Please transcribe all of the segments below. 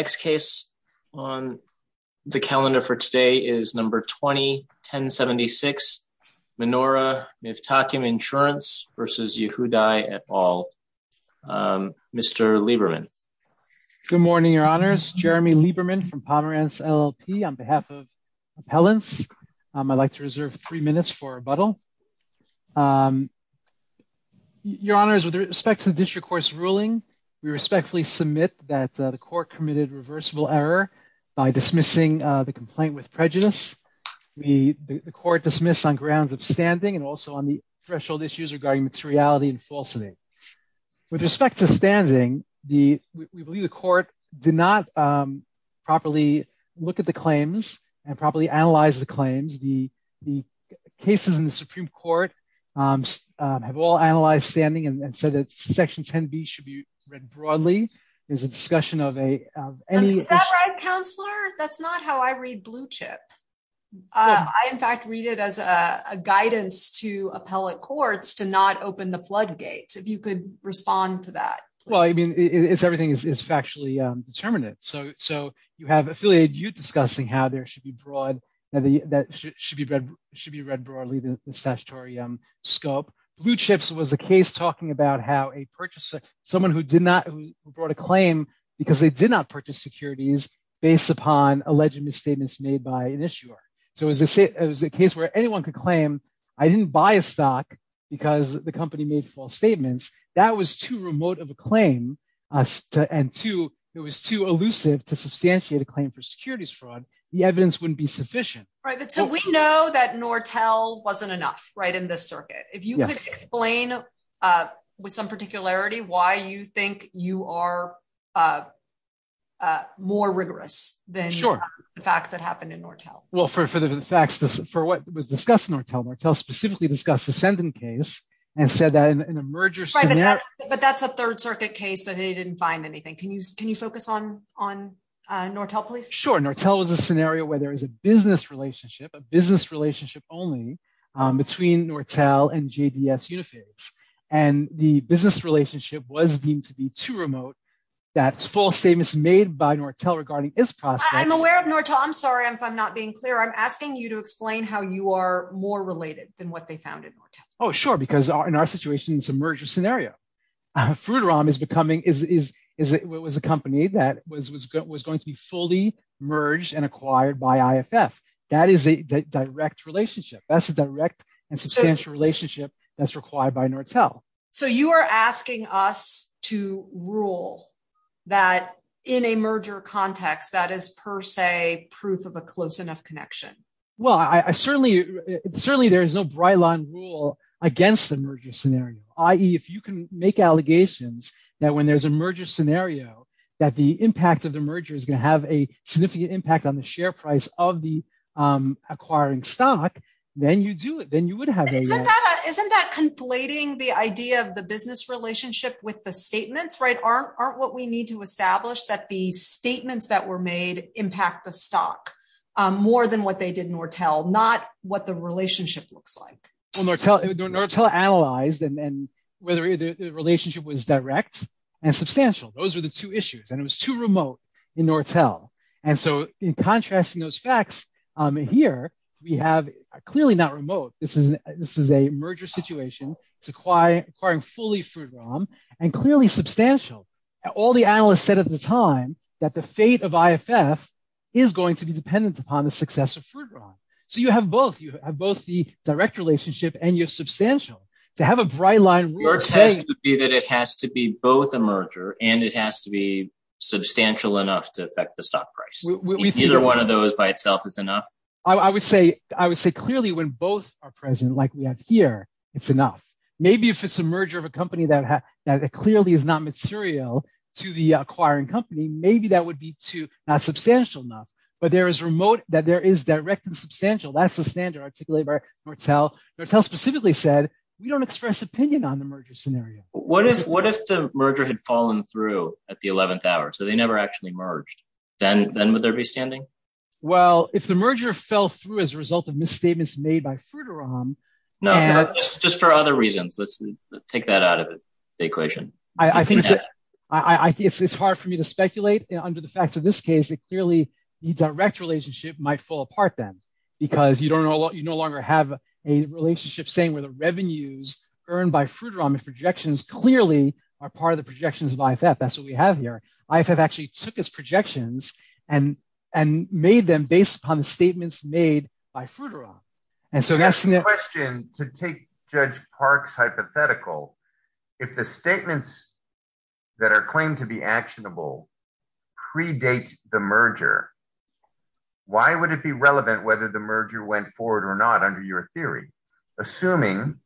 The next case on the calendar for today is number 2010 76 Menora Mivtachim Insurance versus Yehudai et al. Mr Lieberman. Good morning, your honors, Jeremy Lieberman from Pomerantz LLP on behalf of appellants. I'd like to reserve three minutes for a bottle. Your honors, with respect to the district court's ruling, we respectfully submit that the court committed reversible error by dismissing the complaint with prejudice. The court dismissed on grounds of standing and also on the threshold issues regarding materiality and falsity. With respect to standing, we believe the court did not properly look at the claims and properly analyze the claims. The cases in the Supreme Court have all analyzed standing and said that section 10B should be read broadly. Is that right, counselor? That's not how I read blue chip. I, in fact, read it as a guidance to appellate courts to not open the floodgates, if you could respond to that. Well, I mean, it's everything is factually determinate. So, so you have affiliated you discussing how there should be broad that should be read, should be read broadly the statutory scope. Blue chips was a case talking about how a purchaser, someone who did not brought a claim because they did not purchase securities based upon alleged misstatements made by an issuer. So as I say, it was a case where anyone could claim I didn't buy a stock because the company made false statements. That was too remote of a claim. And two, it was too elusive to substantiate a claim for securities fraud. Right. So we know that Nortel wasn't enough right in this circuit. If you could explain with some particularity why you think you are more rigorous than the facts that happened in Nortel. Well, for the facts, for what was discussed in Nortel, Nortel specifically discussed ascendant case and said that in a merger scenario. But that's a third circuit case that they didn't find anything. Can you can you focus on on Nortel, please? Sure. Nortel was a scenario where there is a business relationship, a business relationship only between Nortel and J.D.S. Uniface. And the business relationship was deemed to be too remote. That's false statements made by Nortel regarding its prospects. I'm aware of Nortel. I'm sorry if I'm not being clear. I'm asking you to explain how you are more related than what they found in Nortel. Oh, sure. Because in our situation, it's a merger scenario. Fruteram is becoming is it was a company that was was was going to be fully merged and acquired by IFF. That is a direct relationship. That's a direct and substantial relationship that's required by Nortel. So you are asking us to rule that in a merger context, that is per se proof of a close enough connection. Well, I certainly certainly there is no byline rule against the merger scenario, i.e. if you can make allegations that when there's a merger scenario, that the impact of the merger is going to have a significant impact on the share price of the acquiring stock. Then you do it. Then you would have. Isn't that conflating the idea of the business relationship with the statements? Right. Aren't what we need to establish that the statements that were made impact the stock more than what they did in Nortel, not what the relationship looks like. Well, Nortel analyzed and whether the relationship was direct and substantial. Those are the two issues. And it was too remote in Nortel. And so in contrast to those facts here, we have clearly not remote. This is this is a merger situation. It's a quiet, quiet, fully food and clearly substantial. All the analysts said at the time that the fate of IFF is going to be dependent upon the success of food. So you have both. You have both the direct relationship and your substantial to have a bright line. Your test would be that it has to be both a merger and it has to be substantial enough to affect the stock price. Either one of those by itself is enough. I would say I would say clearly when both are present, like we have here, it's enough. Maybe if it's a merger of a company that clearly is not material to the acquiring company, maybe that would be too substantial enough. But there is remote that there is direct and substantial. That's the standard articulated by Nortel. Nortel specifically said we don't express opinion on the merger scenario. What if what if the merger had fallen through at the 11th hour so they never actually merged, then then would there be standing? Well, if the merger fell through as a result of misstatements made by Fruiteram. No, just for other reasons. Let's take that out of the equation. I think it's hard for me to speculate under the facts of this case. Clearly, the direct relationship might fall apart then because you don't know you no longer have a relationship saying where the revenues earned by Fruiteram projections clearly are part of the projections of IFF. That's what we have here. I have actually took his projections and and made them based upon the statements made by Fruiteram. And so that's the question to take Judge Park's hypothetical. If the statements that are claimed to be actionable predate the merger. Why would it be relevant whether the merger went forward or not under your theory, assuming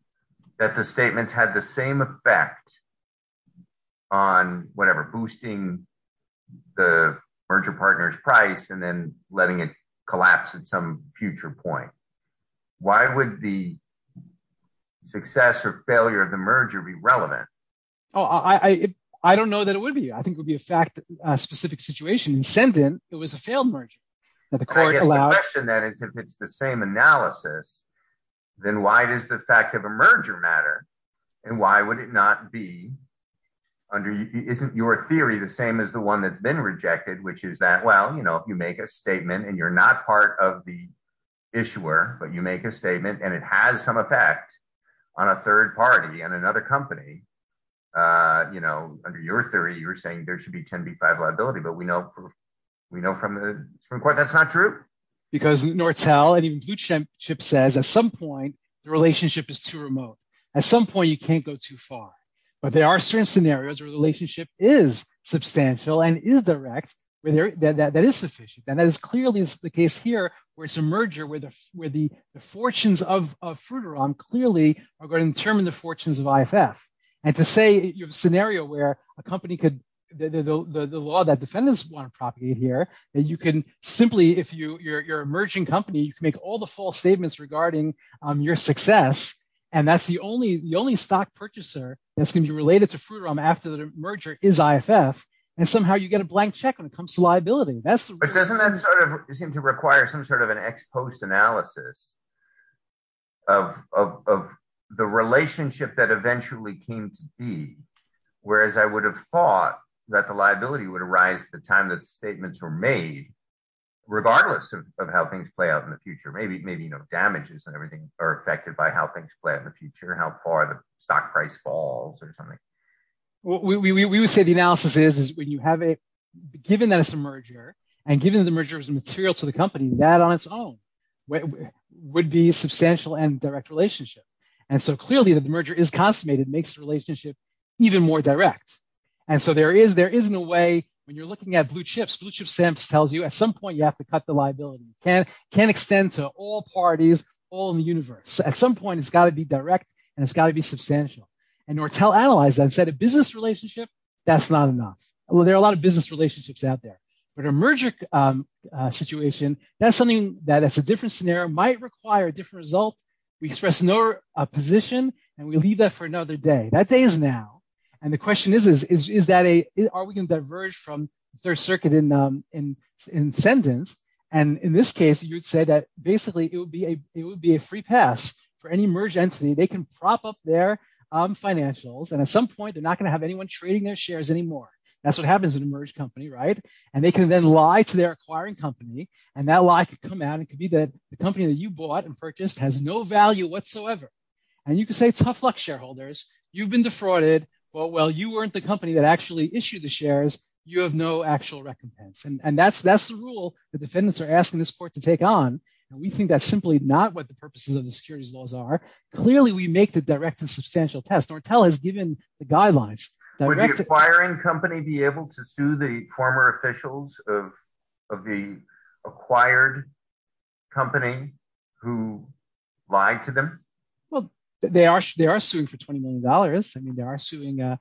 that the statements had the same effect on whatever, boosting the merger partners price and then letting it collapse at some future point? Why would the success or failure of the merger be relevant? Oh, I don't know that it would be. I think it would be a fact that a specific situation and send in. It was a failed merger that the court allowed. That is, if it's the same analysis, then why does the fact of a merger matter and why would it not be under? Isn't your theory the same as the one that's been rejected, which is that, well, you know, if you make a statement and you're not part of the issuer, but you make a statement and it has some effect on a third party and another company. You know, under your theory, you're saying there should be 10 B5 liability, but we know we know from the Supreme Court that's not true. Because Nortel and even blue chip says at some point the relationship is too remote. At some point, you can't go too far. But there are certain scenarios where the relationship is substantial and is direct. That is sufficient. And that is clearly the case here, where it's a merger with where the fortunes of Fruiterum clearly are going to determine the fortunes of IFF. And to say you have a scenario where a company could the law that defendants want to propagate here that you can simply if you're a merging company, you can make all the false statements regarding your success. And that's the only the only stock purchaser that's going to be related to Fruiterum after the merger is IFF. And somehow you get a blank check when it comes to liability. But doesn't that sort of seem to require some sort of an ex post analysis of the relationship that eventually came to be? Whereas I would have thought that the liability would arise at the time that statements were made, regardless of how things play out in the future. Maybe maybe, you know, damages and everything are affected by how things play out in the future, how far the stock price falls or something. We would say the analysis is when you have a given that it's a merger and given the merger as a material to the company, that on its own would be substantial and direct relationship. And so clearly, the merger is consummated makes the relationship even more direct. And so there is there is no way when you're looking at blue chips, blue chips tells you at some point you have to cut the liability can can extend to all parties all in the universe. At some point, it's got to be direct and it's got to be substantial and or tell analyze that said a business relationship. That's not enough. Well, there are a lot of business relationships out there. But a merger situation, that's something that it's a different scenario might require a different result. We express no opposition and we leave that for another day. That day is now. And the question is, is that a are we going to diverge from third circuit in in sentence? And in this case, you would say that basically it would be a it would be a free pass for any merge entity. They can prop up their financials. And at some point, they're not going to have anyone trading their shares anymore. That's what happens in a merge company. Right. And they can then lie to their acquiring company. And that lie could come out and could be that the company that you bought and purchased has no value whatsoever. And you can say tough luck, shareholders. You've been defrauded. Well, you weren't the company that actually issued the shares. You have no actual recompense. And that's that's the rule the defendants are asking this court to take on. And we think that's simply not what the purposes of the securities laws are. Clearly, we make the direct and substantial test or tell has given the guidelines. Would the acquiring company be able to sue the former officials of of the acquired company who lied to them? Well, they are. They are suing for 20 million dollars. I mean, they are suing you.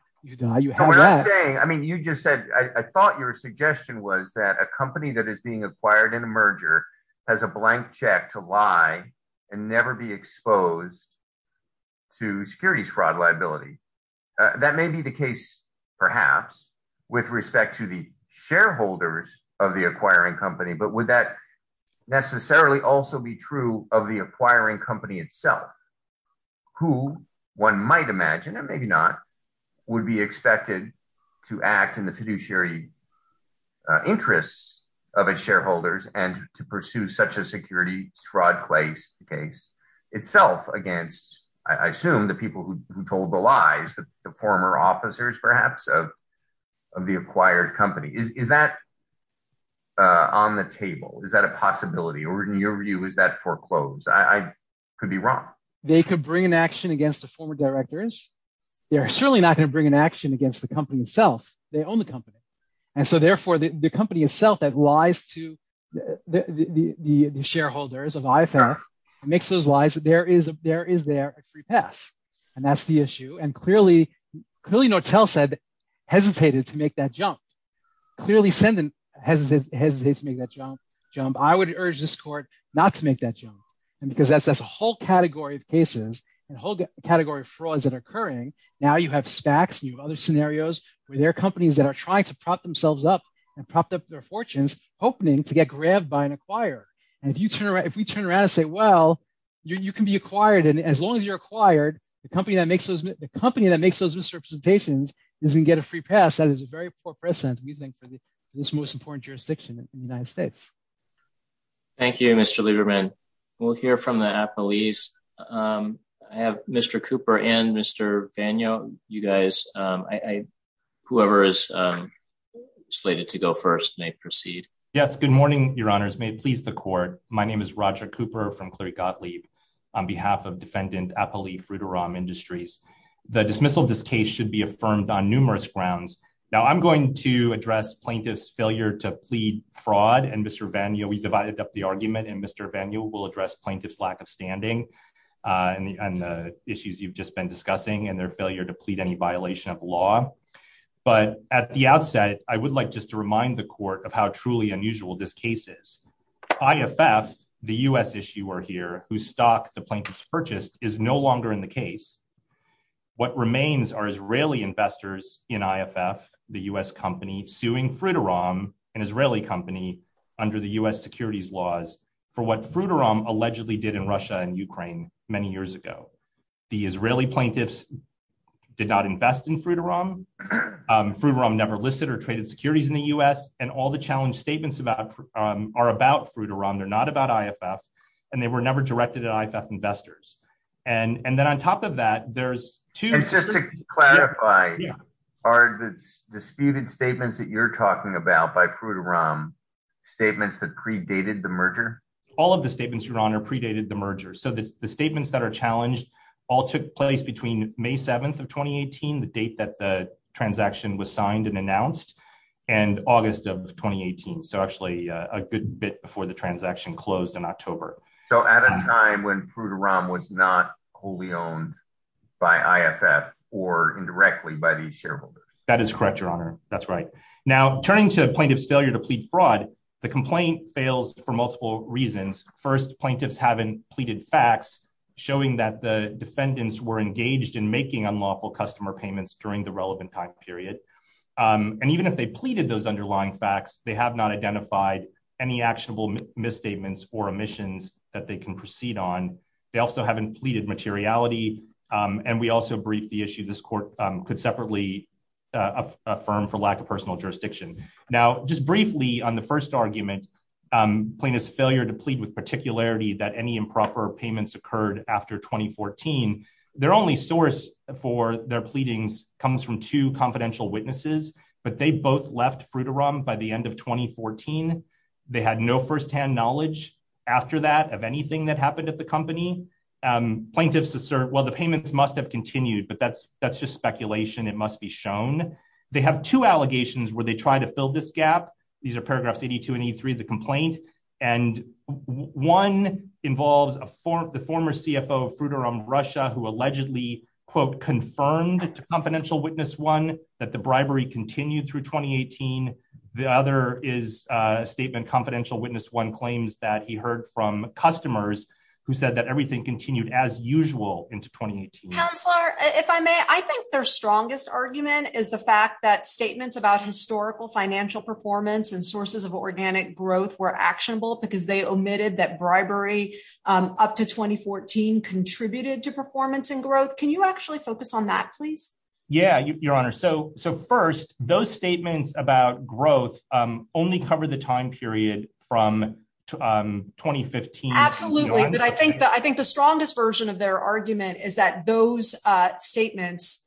I mean, you just said I thought your suggestion was that a company that is being acquired in a merger has a blank check to lie and never be exposed. To securities fraud liability, that may be the case, perhaps with respect to the shareholders of the acquiring company. But would that necessarily also be true of the acquiring company itself? Who one might imagine and maybe not would be expected to act in the fiduciary interests of its shareholders and to pursue such a security fraud case itself against, I assume, the people who told the lies, the former officers perhaps of of the acquired company. Is that on the table? Is that a possibility or in your view, is that foreclosed? I could be wrong. They could bring an action against the former directors. They are certainly not going to bring an action against the company itself. They own the company. And so therefore, the company itself that lies to the shareholders of IFA makes those lies. There is there is there a free pass. And that's the issue. And clearly, clearly, Nortel said hesitated to make that jump. Clearly, Senden hesitates to make that jump. I would urge this court not to make that jump because that's a whole category of cases, a whole category of frauds that are occurring. Now you have SPACs and you have other scenarios where there are companies that are trying to prop themselves up and prop up their fortunes, hoping to get grabbed by an acquirer. And if you turn around, if we turn around and say, well, you can be acquired. And as long as you're acquired, the company that makes the company that makes those misrepresentations doesn't get a free pass. That is a very poor precedent, we think, for this most important jurisdiction in the United States. Thank you, Mr. Lieberman. We'll hear from the police. I have Mr. Cooper and Mr. Vano. You guys, I whoever is slated to go first may proceed. Yes. Good morning, Your Honors. May it please the court. My name is Roger Cooper from Cleary Gottlieb on behalf of defendant Apali Frutiram Industries. The dismissal of this case should be affirmed on numerous grounds. Now, I'm going to address plaintiff's failure to plead fraud. And Mr. Vano, we divided up the argument and Mr. Vano will address plaintiff's lack of standing and the issues you've just been discussing and their failure to plead any violation of law. But at the outset, I would like just to remind the court of how truly unusual this case is. IFF, the U.S. issuer here whose stock the plaintiffs purchased, is no longer in the case. What remains are Israeli investors in IFF, the U.S. company, suing Frutiram, an Israeli company, under the U.S. securities laws for what Frutiram allegedly did in Russia and Ukraine many years ago. The Israeli plaintiffs did not invest in Frutiram. Frutiram never listed or traded securities in the U.S. And all the challenge statements about are about Frutiram. They're not about IFF. And they were never directed at IFF investors. And then on top of that, there's two. Just to clarify, are the disputed statements that you're talking about by Frutiram statements that predated the merger? All of the statements, Your Honor, predated the merger. So the statements that are challenged all took place between May 7th of 2018, the date that the transaction was signed and announced, and August of 2018. So actually a good bit before the transaction closed in October. So at a time when Frutiram was not wholly owned by IFF or indirectly by the shareholders. That is correct, Your Honor. That's right. Now, turning to plaintiff's failure to plead fraud, the complaint fails for multiple reasons. First, plaintiffs haven't pleaded facts showing that the defendants were engaged in making unlawful customer payments during the relevant time period. And even if they pleaded those underlying facts, they have not identified any actionable misstatements or omissions that they can proceed on. They also haven't pleaded materiality. And we also briefed the issue. This court could separately affirm for lack of personal jurisdiction. Now, just briefly on the first argument, plaintiff's failure to plead with particularity that any improper payments occurred after 2014. Their only source for their pleadings comes from two confidential witnesses, but they both left Frutiram by the end of 2014. They had no firsthand knowledge after that of anything that happened at the company. Plaintiffs assert, well, the payments must have continued, but that's just speculation. It must be shown. They have two allegations where they try to fill this gap. These are paragraphs 82 and 83 of the complaint. And one involves the former CFO of Frutiram, Russia, who allegedly, quote, confirmed to Confidential Witness 1 that the bribery continued through 2018. The other is a statement Confidential Witness 1 claims that he heard from customers who said that everything continued as usual into 2018. Counselor, if I may, I think their strongest argument is the fact that statements about historical financial performance and sources of organic growth were actionable because they omitted that bribery up to 2014 contributed to performance and growth. Can you actually focus on that, please? Yeah, Your Honor. So first, those statements about growth only cover the time period from 2015 to now. Absolutely, but I think the strongest version of their argument is that those statements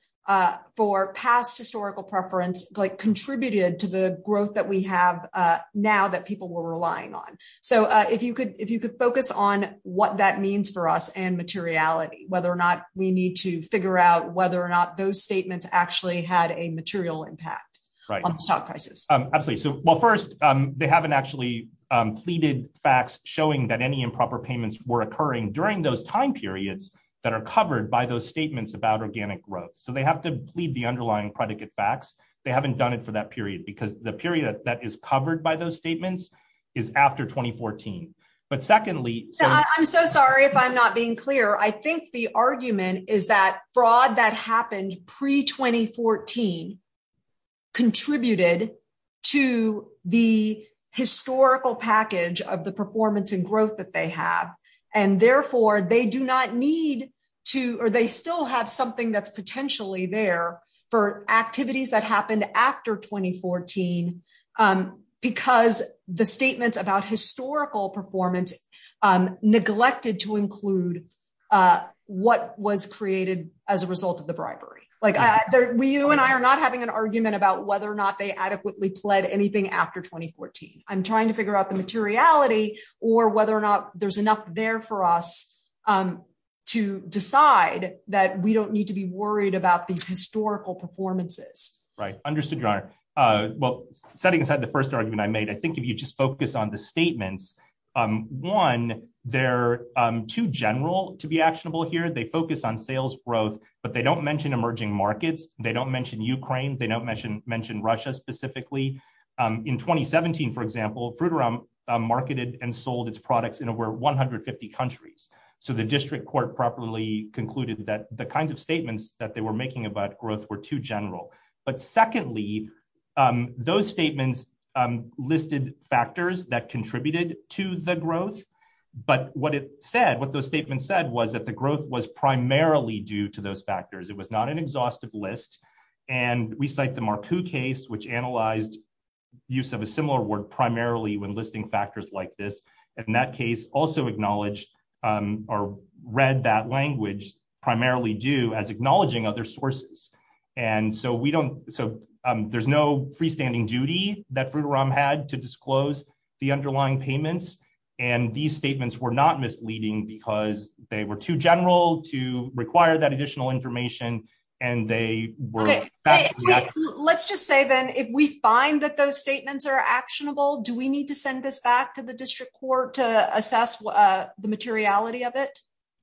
for past historical preference contributed to the growth that we have now that people were relying on. So if you could focus on what that means for us and materiality, whether or not we need to figure out whether or not those statements actually had a material impact on the stock prices. Absolutely. So, well, first, they haven't actually pleaded facts showing that any improper payments were occurring during those time periods that are covered by those statements about organic growth. So they have to plead the underlying predicate facts. They haven't done it for that period because the period that is covered by those statements is after 2014. But secondly, I'm so sorry if I'm not being clear. I think the argument is that fraud that happened pre-2014 contributed to the historical package of the performance and growth that they have. And therefore, they do not need to, or they still have something that's potentially there for activities that happened after 2014 because the statements about historical performance neglected to include what was created as a result of the bribery. You and I are not having an argument about whether or not they adequately pled anything after 2014. I'm trying to figure out the materiality or whether or not there's enough there for us to decide that we don't need to be worried about these historical performances. Right. Understood, Your Honor. Well, setting aside the first argument I made, I think if you just focus on the statements, one, they're too general to be actionable here. They focus on sales growth, but they don't mention emerging markets. They don't mention Ukraine. They don't mention Russia specifically. In 2017, for example, Fruitera marketed and sold its products in over 150 countries. So the district court properly concluded that the kinds of statements that they were making about growth were too general. But secondly, those statements listed factors that contributed to the growth. But what it said, what those statements said was that the growth was primarily due to those factors. It was not an exhaustive list. And we cite the Markku case, which analyzed use of a similar word primarily when listing factors like this. And that case also acknowledged or read that language primarily due as acknowledging other sources. And so we don't. So there's no freestanding duty that Fruitera had to disclose the underlying payments. And these statements were not misleading because they were too general to require that additional information. And they were. Let's just say, then, if we find that those statements are actionable, do we need to send this back to the district court to assess the materiality of it?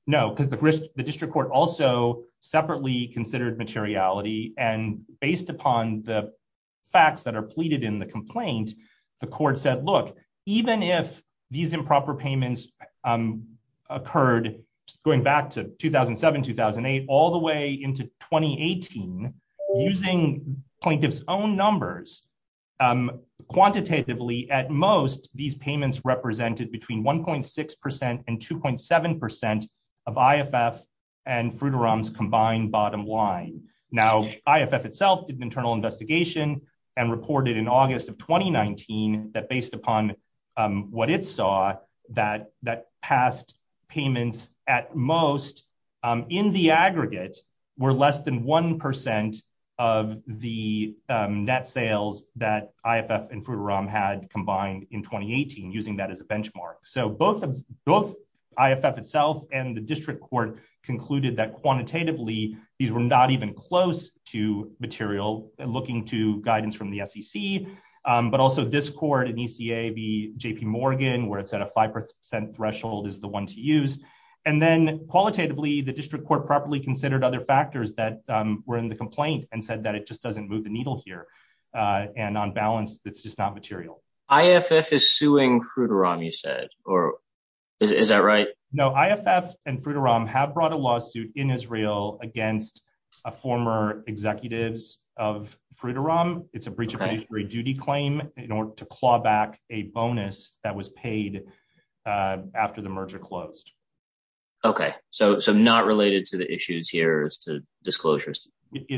No, because the district court also separately considered materiality. And based upon the facts that are pleaded in the complaint, the court said, look, even if these improper payments occurred going back to 2007, 2008, all the way into 2018, using plaintiff's own numbers, quantitatively, at most, these payments represented between 1.6% and 2.7% of IFF and Fruitera's combined bottom line. Now, IFF itself did an internal investigation and reported in August of 2019 that based upon what it saw, that past payments at most, in the aggregate, were less than 1% of the net sales that IFF and Fruitera had combined in 2018, using that as a benchmark. So both IFF itself and the district court concluded that quantitatively, these were not even close to material looking to guidance from the SEC, but also this court and ECA v. J.P. Morgan, where it said a 5% threshold is the one to use. And then qualitatively, the district court properly considered other factors that were in the complaint and said that it just doesn't move the needle here. And on balance, it's just not material. IFF is suing Fruitera, you said, or is that right? No, IFF and Fruitera have brought a lawsuit in Israel against former executives of Fruitera. It's a breach of fiduciary duty claim in order to claw back a bonus that was paid after the merger closed. Okay, so not related to the issues here as to disclosures?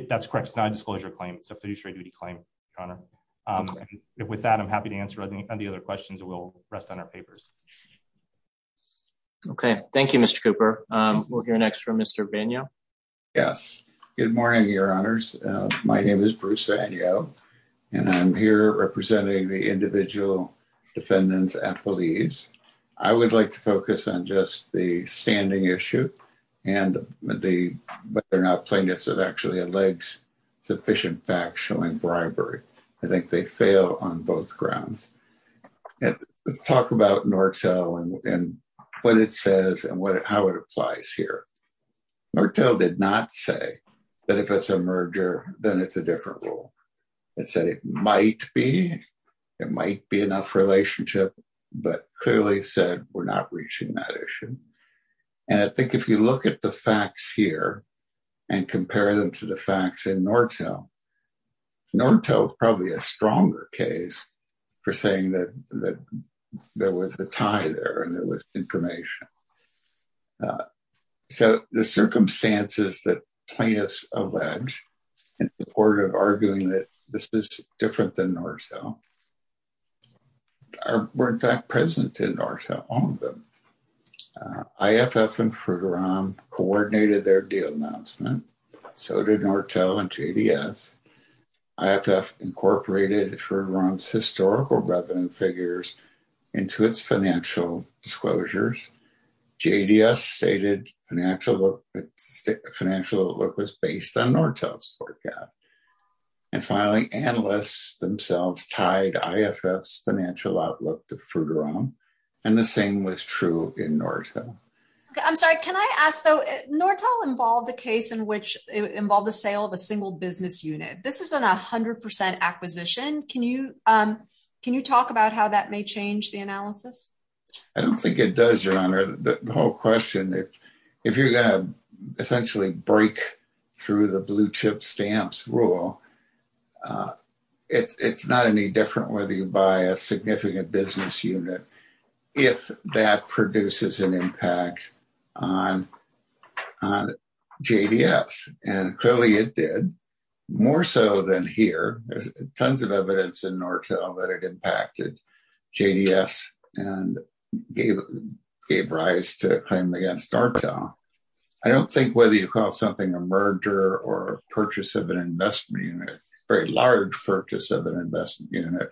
That's correct. It's not a disclosure claim. It's a fiduciary duty claim, Your Honor. With that, I'm happy to answer any other questions, and we'll rest on our papers. Okay, thank you, Mr. Cooper. We'll hear next from Mr. Vagneau. Yes. Good morning, Your Honors. My name is Bruce Vagneau, and I'm here representing the individual defendants at Belize. I would like to focus on just the standing issue and whether or not plaintiffs have actually alleged sufficient facts showing bribery. I think they fail on both grounds. Let's talk about Nortel and what it says and how it applies here. Nortel did not say that if it's a merger, then it's a different rule. It said it might be, it might be enough relationship, but clearly said we're not reaching that issue. And I think if you look at the facts here and compare them to the facts in Nortel, Nortel is probably a stronger case for saying that there was a tie there and there was information. So the circumstances that plaintiffs allege in support of arguing that this is different than Nortel were in fact present in Nortel, all of them. IFF and Fruiteram coordinated their deal announcement. So did Nortel and JDS. IFF incorporated Fruiteram's historical revenue figures into its financial disclosures. JDS stated financial outlook was based on Nortel's forecast. And finally, analysts themselves tied IFF's financial outlook to Fruiteram. And the same was true in Nortel. I'm sorry, can I ask though, Nortel involved a case in which it involved the sale of a single business unit. This isn't a hundred percent acquisition. Can you, can you talk about how that may change the analysis? I don't think it does, Your Honor. The whole question, if you're going to essentially break through the blue chip stamps rule, it's not any different whether you buy a significant business unit, if that produces an impact on JDS. And clearly it did, more so than here. There's tons of evidence in Nortel that it impacted JDS and gave rise to a claim against Nortel. I don't think whether you call something a merger or purchase of an investment unit, very large purchase of an investment unit,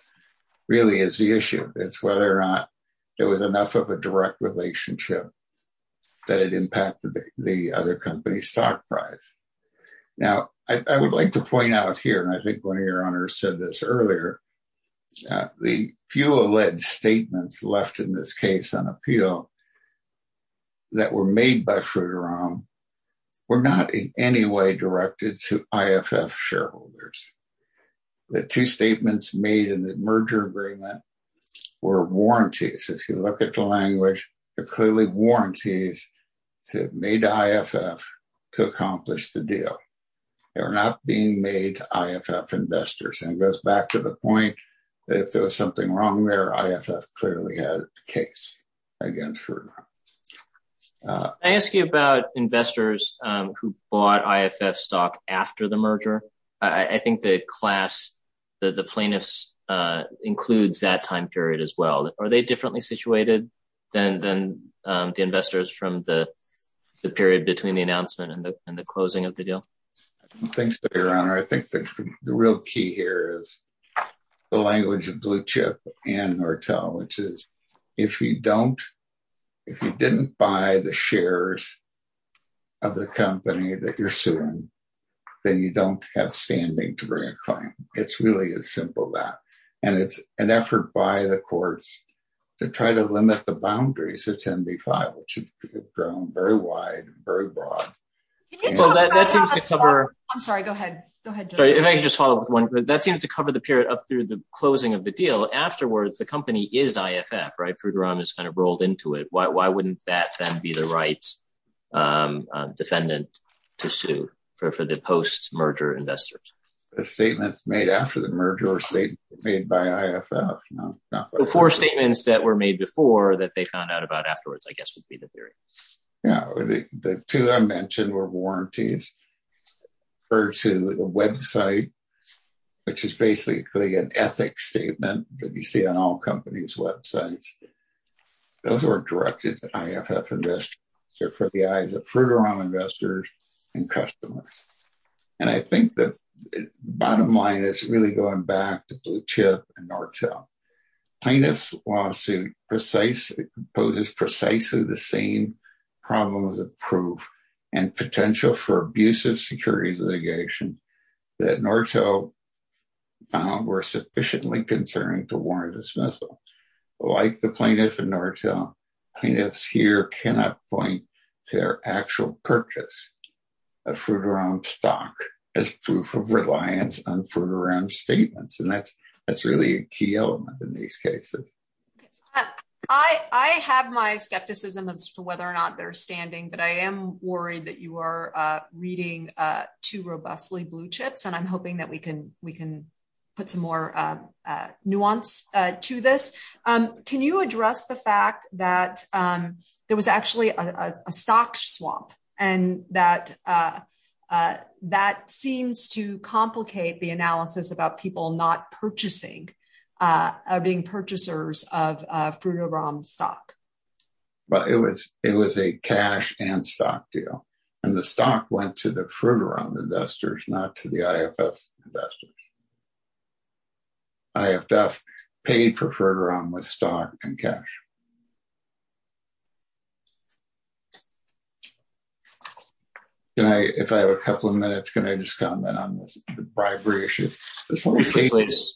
really is the issue. It's whether or not there was enough of a direct relationship that it impacted the other company's stock price. Now, I would like to point out here, and I think one of your honors said this earlier, the few alleged statements left in this case on appeal that were made by Fruiteram were not in any way directed to IFF shareholders. The two statements made in the merger agreement were warranties. If you look at the language, they're clearly warranties made to IFF to accomplish the deal. They were not being made to IFF investors. And it goes back to the point that if there was something wrong there, IFF clearly had a case against Fruiteram. I ask you about investors who bought IFF stock after the merger. I think the class, the plaintiffs, includes that time period as well. Are they differently situated than the investors from the period between the announcement and the closing of the deal? Thanks, Your Honor. I think the real key here is the language of Blue Chip and Nortel, which is, if you didn't buy the shares of the company that you're suing, then you don't have standing to bring a claim. It's really as simple as that. And it's an effort by the courts to try to limit the boundaries of 10b-5, which have grown very wide, very broad. That seems to cover the period up through the closing of the deal. Afterwards, the company is IFF, right? Fruiteram is kind of rolled into it. Why wouldn't that then be the right defendant to sue for the post-merger investors? The statements made after the merger were statements made by IFF. The four statements that were made before that they found out about afterwards, I guess, would be the theory. The two I mentioned were warranties, referred to the website, which is basically an ethics statement that you see on all companies' websites. Those were directed at IFF investors for the eyes of Fruiteram investors and customers. And I think the bottom line is really going back to Blue Chip and Nortel. Plaintiff's lawsuit poses precisely the same problems of proof and potential for abusive securities litigation that Nortel found were sufficiently concerning to warrant a dismissal. Like the plaintiff in Nortel, plaintiffs here cannot point to their actual purchase of Fruiteram stock as proof of reliance on Fruiteram statements. And that's really a key element in these cases. I have my skepticism as to whether or not they're standing, but I am worried that you are reading too robustly Blue Chips, and I'm hoping that we can put some more nuance to this. Can you address the fact that there was actually a stock swamp and that that seems to complicate the analysis about people not purchasing, being purchasers of Fruiteram stock? Well, it was a cash and stock deal. And the stock went to the Fruiteram investors, not to the IFF investors. IFF paid for Fruiteram with stock and cash. If I have a couple of minutes, can I just comment on this bribery issue? This whole case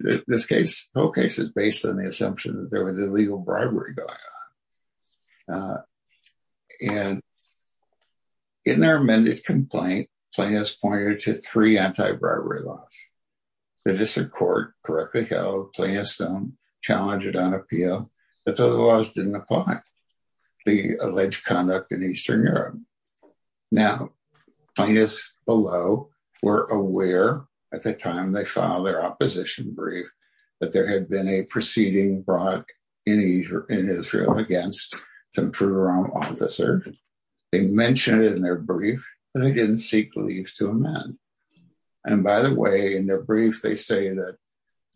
is based on the assumption that there was illegal bribery going on. And in their amended complaint, plaintiffs pointed to three anti-bribery laws. The District Court correctly held plaintiffs don't challenge it on appeal. But those laws didn't apply. The alleged conduct in Eastern Europe. Now, plaintiffs below were aware at the time they filed their opposition brief that there had been a proceeding brought in Israel against some Fruiteram officers. They mentioned it in their brief, but they didn't seek leave to amend. And by the way, in their brief, they say that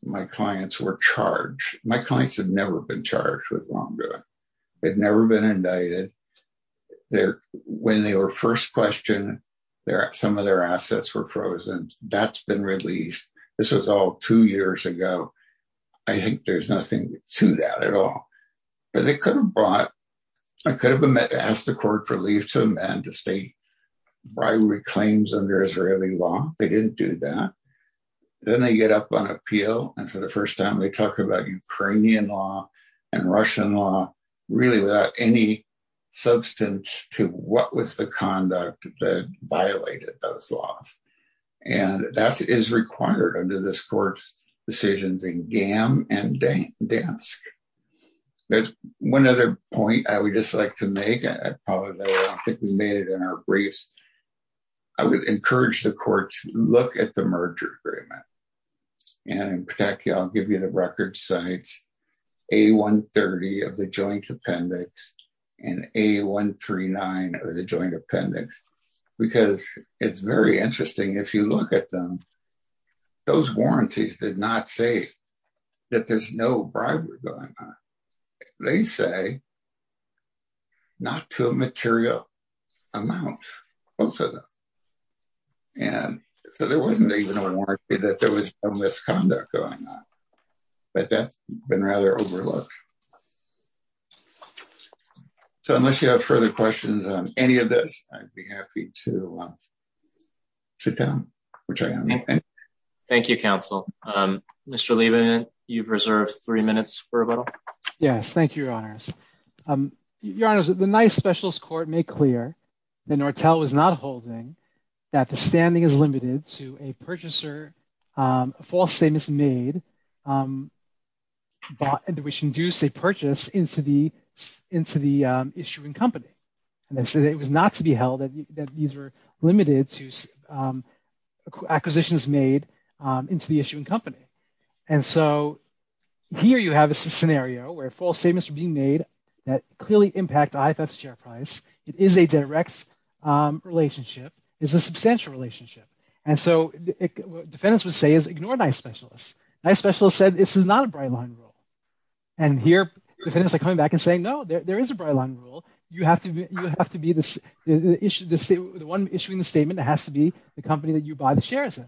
my clients were charged. My clients had never been charged with wrongdoing. They'd never been indicted. When they were first questioned, some of their assets were frozen. That's been released. This was all two years ago. I think there's nothing to that at all. But they could have asked the court for leave to amend the state bribery claims under Israeli law. They didn't do that. Then they get up on appeal. And for the first time, they talk about Ukrainian law and Russian law, really without any substance to what was the conduct that violated those laws. And that is required under this court's decisions in Gam and Dansk. There's one other point I would just like to make. I probably made it in our briefs. I would encourage the court to look at the merger agreement. And in fact, I'll give you the record sites, A-130 of the joint appendix and A-139 of the joint appendix, because it's very interesting. If you look at them, those warranties did not say that there's no bribery going on. They say not to a material amount, both of them. And so there wasn't even a warrant that there was no misconduct going on. But that's been rather overlooked. So unless you have further questions on any of this, I'd be happy to sit down, which I am. Thank you, counsel. Mr. Liebman, you've reserved three minutes for rebuttal. Yes, thank you, Your Honors. Your Honor, the NICE specialist court made clear that Nortel was not holding that the standing is limited to a purchaser. False statements made that we should induce a purchase into the into the issuing company. And so it was not to be held that these were limited to acquisitions made into the issuing company. And so here you have a scenario where false statements are being made that clearly impact IFF's share price. It is a direct relationship, is a substantial relationship. And so defendants would say is ignore NICE specialists. NICE specialists said this is not a bright line rule. And here, defendants are coming back and saying, no, there is a bright line rule. You have to be the one issuing the statement. It has to be the company that you buy the shares in.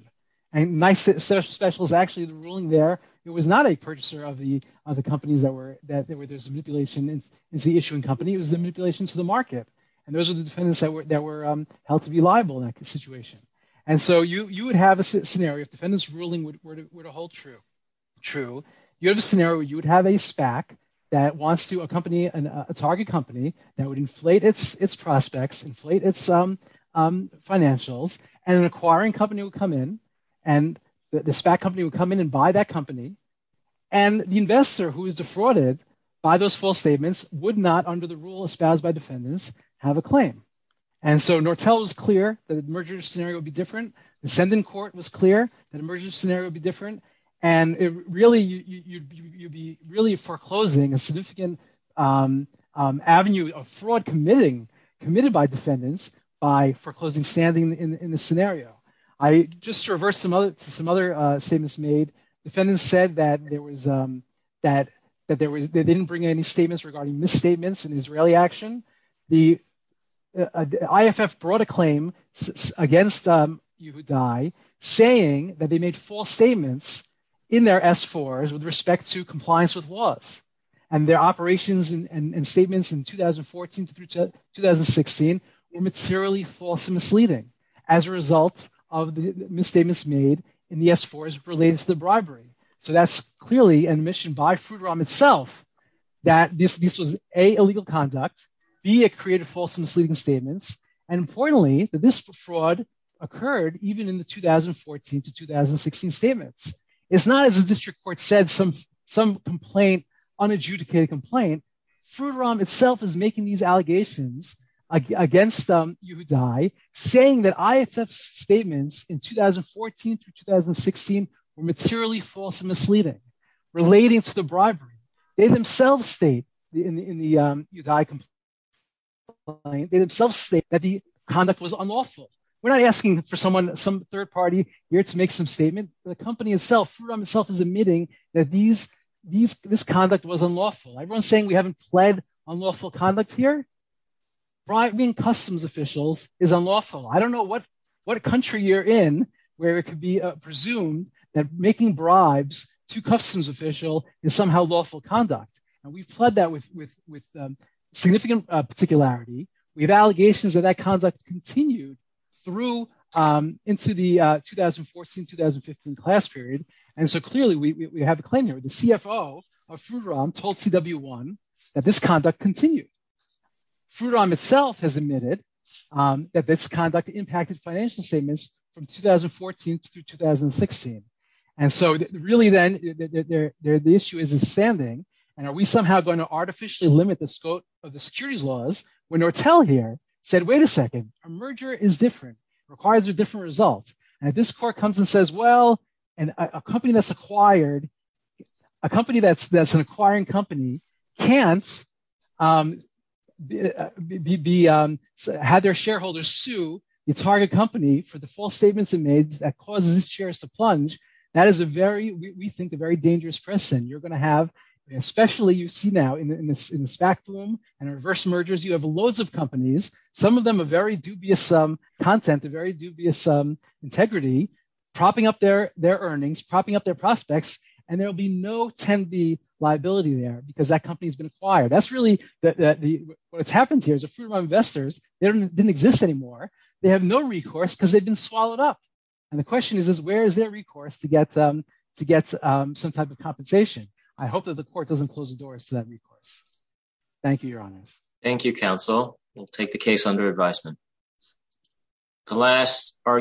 And NICE specialists actually ruling there, it was not a purchaser of the other companies that were that there was a manipulation. It's the issuing company. It was the manipulation to the market. And those are the defendants that were held to be liable in that situation. And so you would have a scenario if defendants ruling were to hold true. True. You have a scenario where you would have a SPAC that wants to accompany a target company that would inflate its prospects, inflate its financials, and an acquiring company would come in and the SPAC company would come in and buy that company. And the investor who is defrauded by those false statements would not, under the rule espoused by defendants, have a claim. And so Nortel was clear that the merger scenario would be different. The Ascendant Court was clear that a merger scenario would be different. And really, you'd be really foreclosing a significant avenue of fraud committed by defendants by foreclosing standing in the scenario. I just reversed some other statements made. Defendants said that they didn't bring any statements regarding misstatements in Israeli action. The IFF brought a claim against Yehudai saying that they made false statements in their S-4s with respect to compliance with laws. And their operations and statements in 2014 to 2016 were materially false and misleading as a result of the misstatements made in the S-4s related to the bribery. So that's clearly an admission by Frouderam itself that this was, A, illegal conduct. B, it created false and misleading statements. And importantly, that this fraud occurred even in the 2014 to 2016 statements. It's not, as the district court said, some complaint, unadjudicated complaint. Frouderam itself is making these allegations against Yehudai saying that IFF's statements in 2014 to 2016 were materially false and misleading relating to the bribery. They themselves state in the Yehudai complaint that the conduct was unlawful. We're not asking for some third party here to make some statement. The company itself, Frouderam itself, is admitting that this conduct was unlawful. Everyone's saying we haven't pled unlawful conduct here. Bribing customs officials is unlawful. I don't know what country you're in where it could be presumed that making bribes to customs officials is somehow lawful conduct. And we've pled that with significant particularity. We have allegations that that conduct continued through into the 2014, 2015 class period. And so clearly we have a claim here. The CFO of Frouderam told CW1 that this conduct continued. Frouderam itself has admitted that this conduct impacted financial statements from 2014 to 2016. And so really, then, the issue is in standing. And are we somehow going to artificially limit the scope of the securities laws when Nortel here said, wait a second, a merger is different, requires a different result. And if this court comes and says, well, and a company that's acquired – a company that's an acquiring company can't have their shareholders sue its target company for the false statements it made that causes its shares to plunge. That is a very, we think, a very dangerous precedent you're going to have, especially you see now in the SPAC boom and reverse mergers. You have loads of companies, some of them a very dubious content, a very dubious integrity, propping up their earnings, propping up their prospects. And there will be no 10B liability there because that company has been acquired. That's really what's happened here is the Frouderam investors didn't exist anymore. They have no recourse because they've been swallowed up. And the question is, where is their recourse to get some type of compensation? I hope that the court doesn't close the doors to that recourse. Thank you, Your Honors. Thank you, Counsel. We'll take the case under advisement.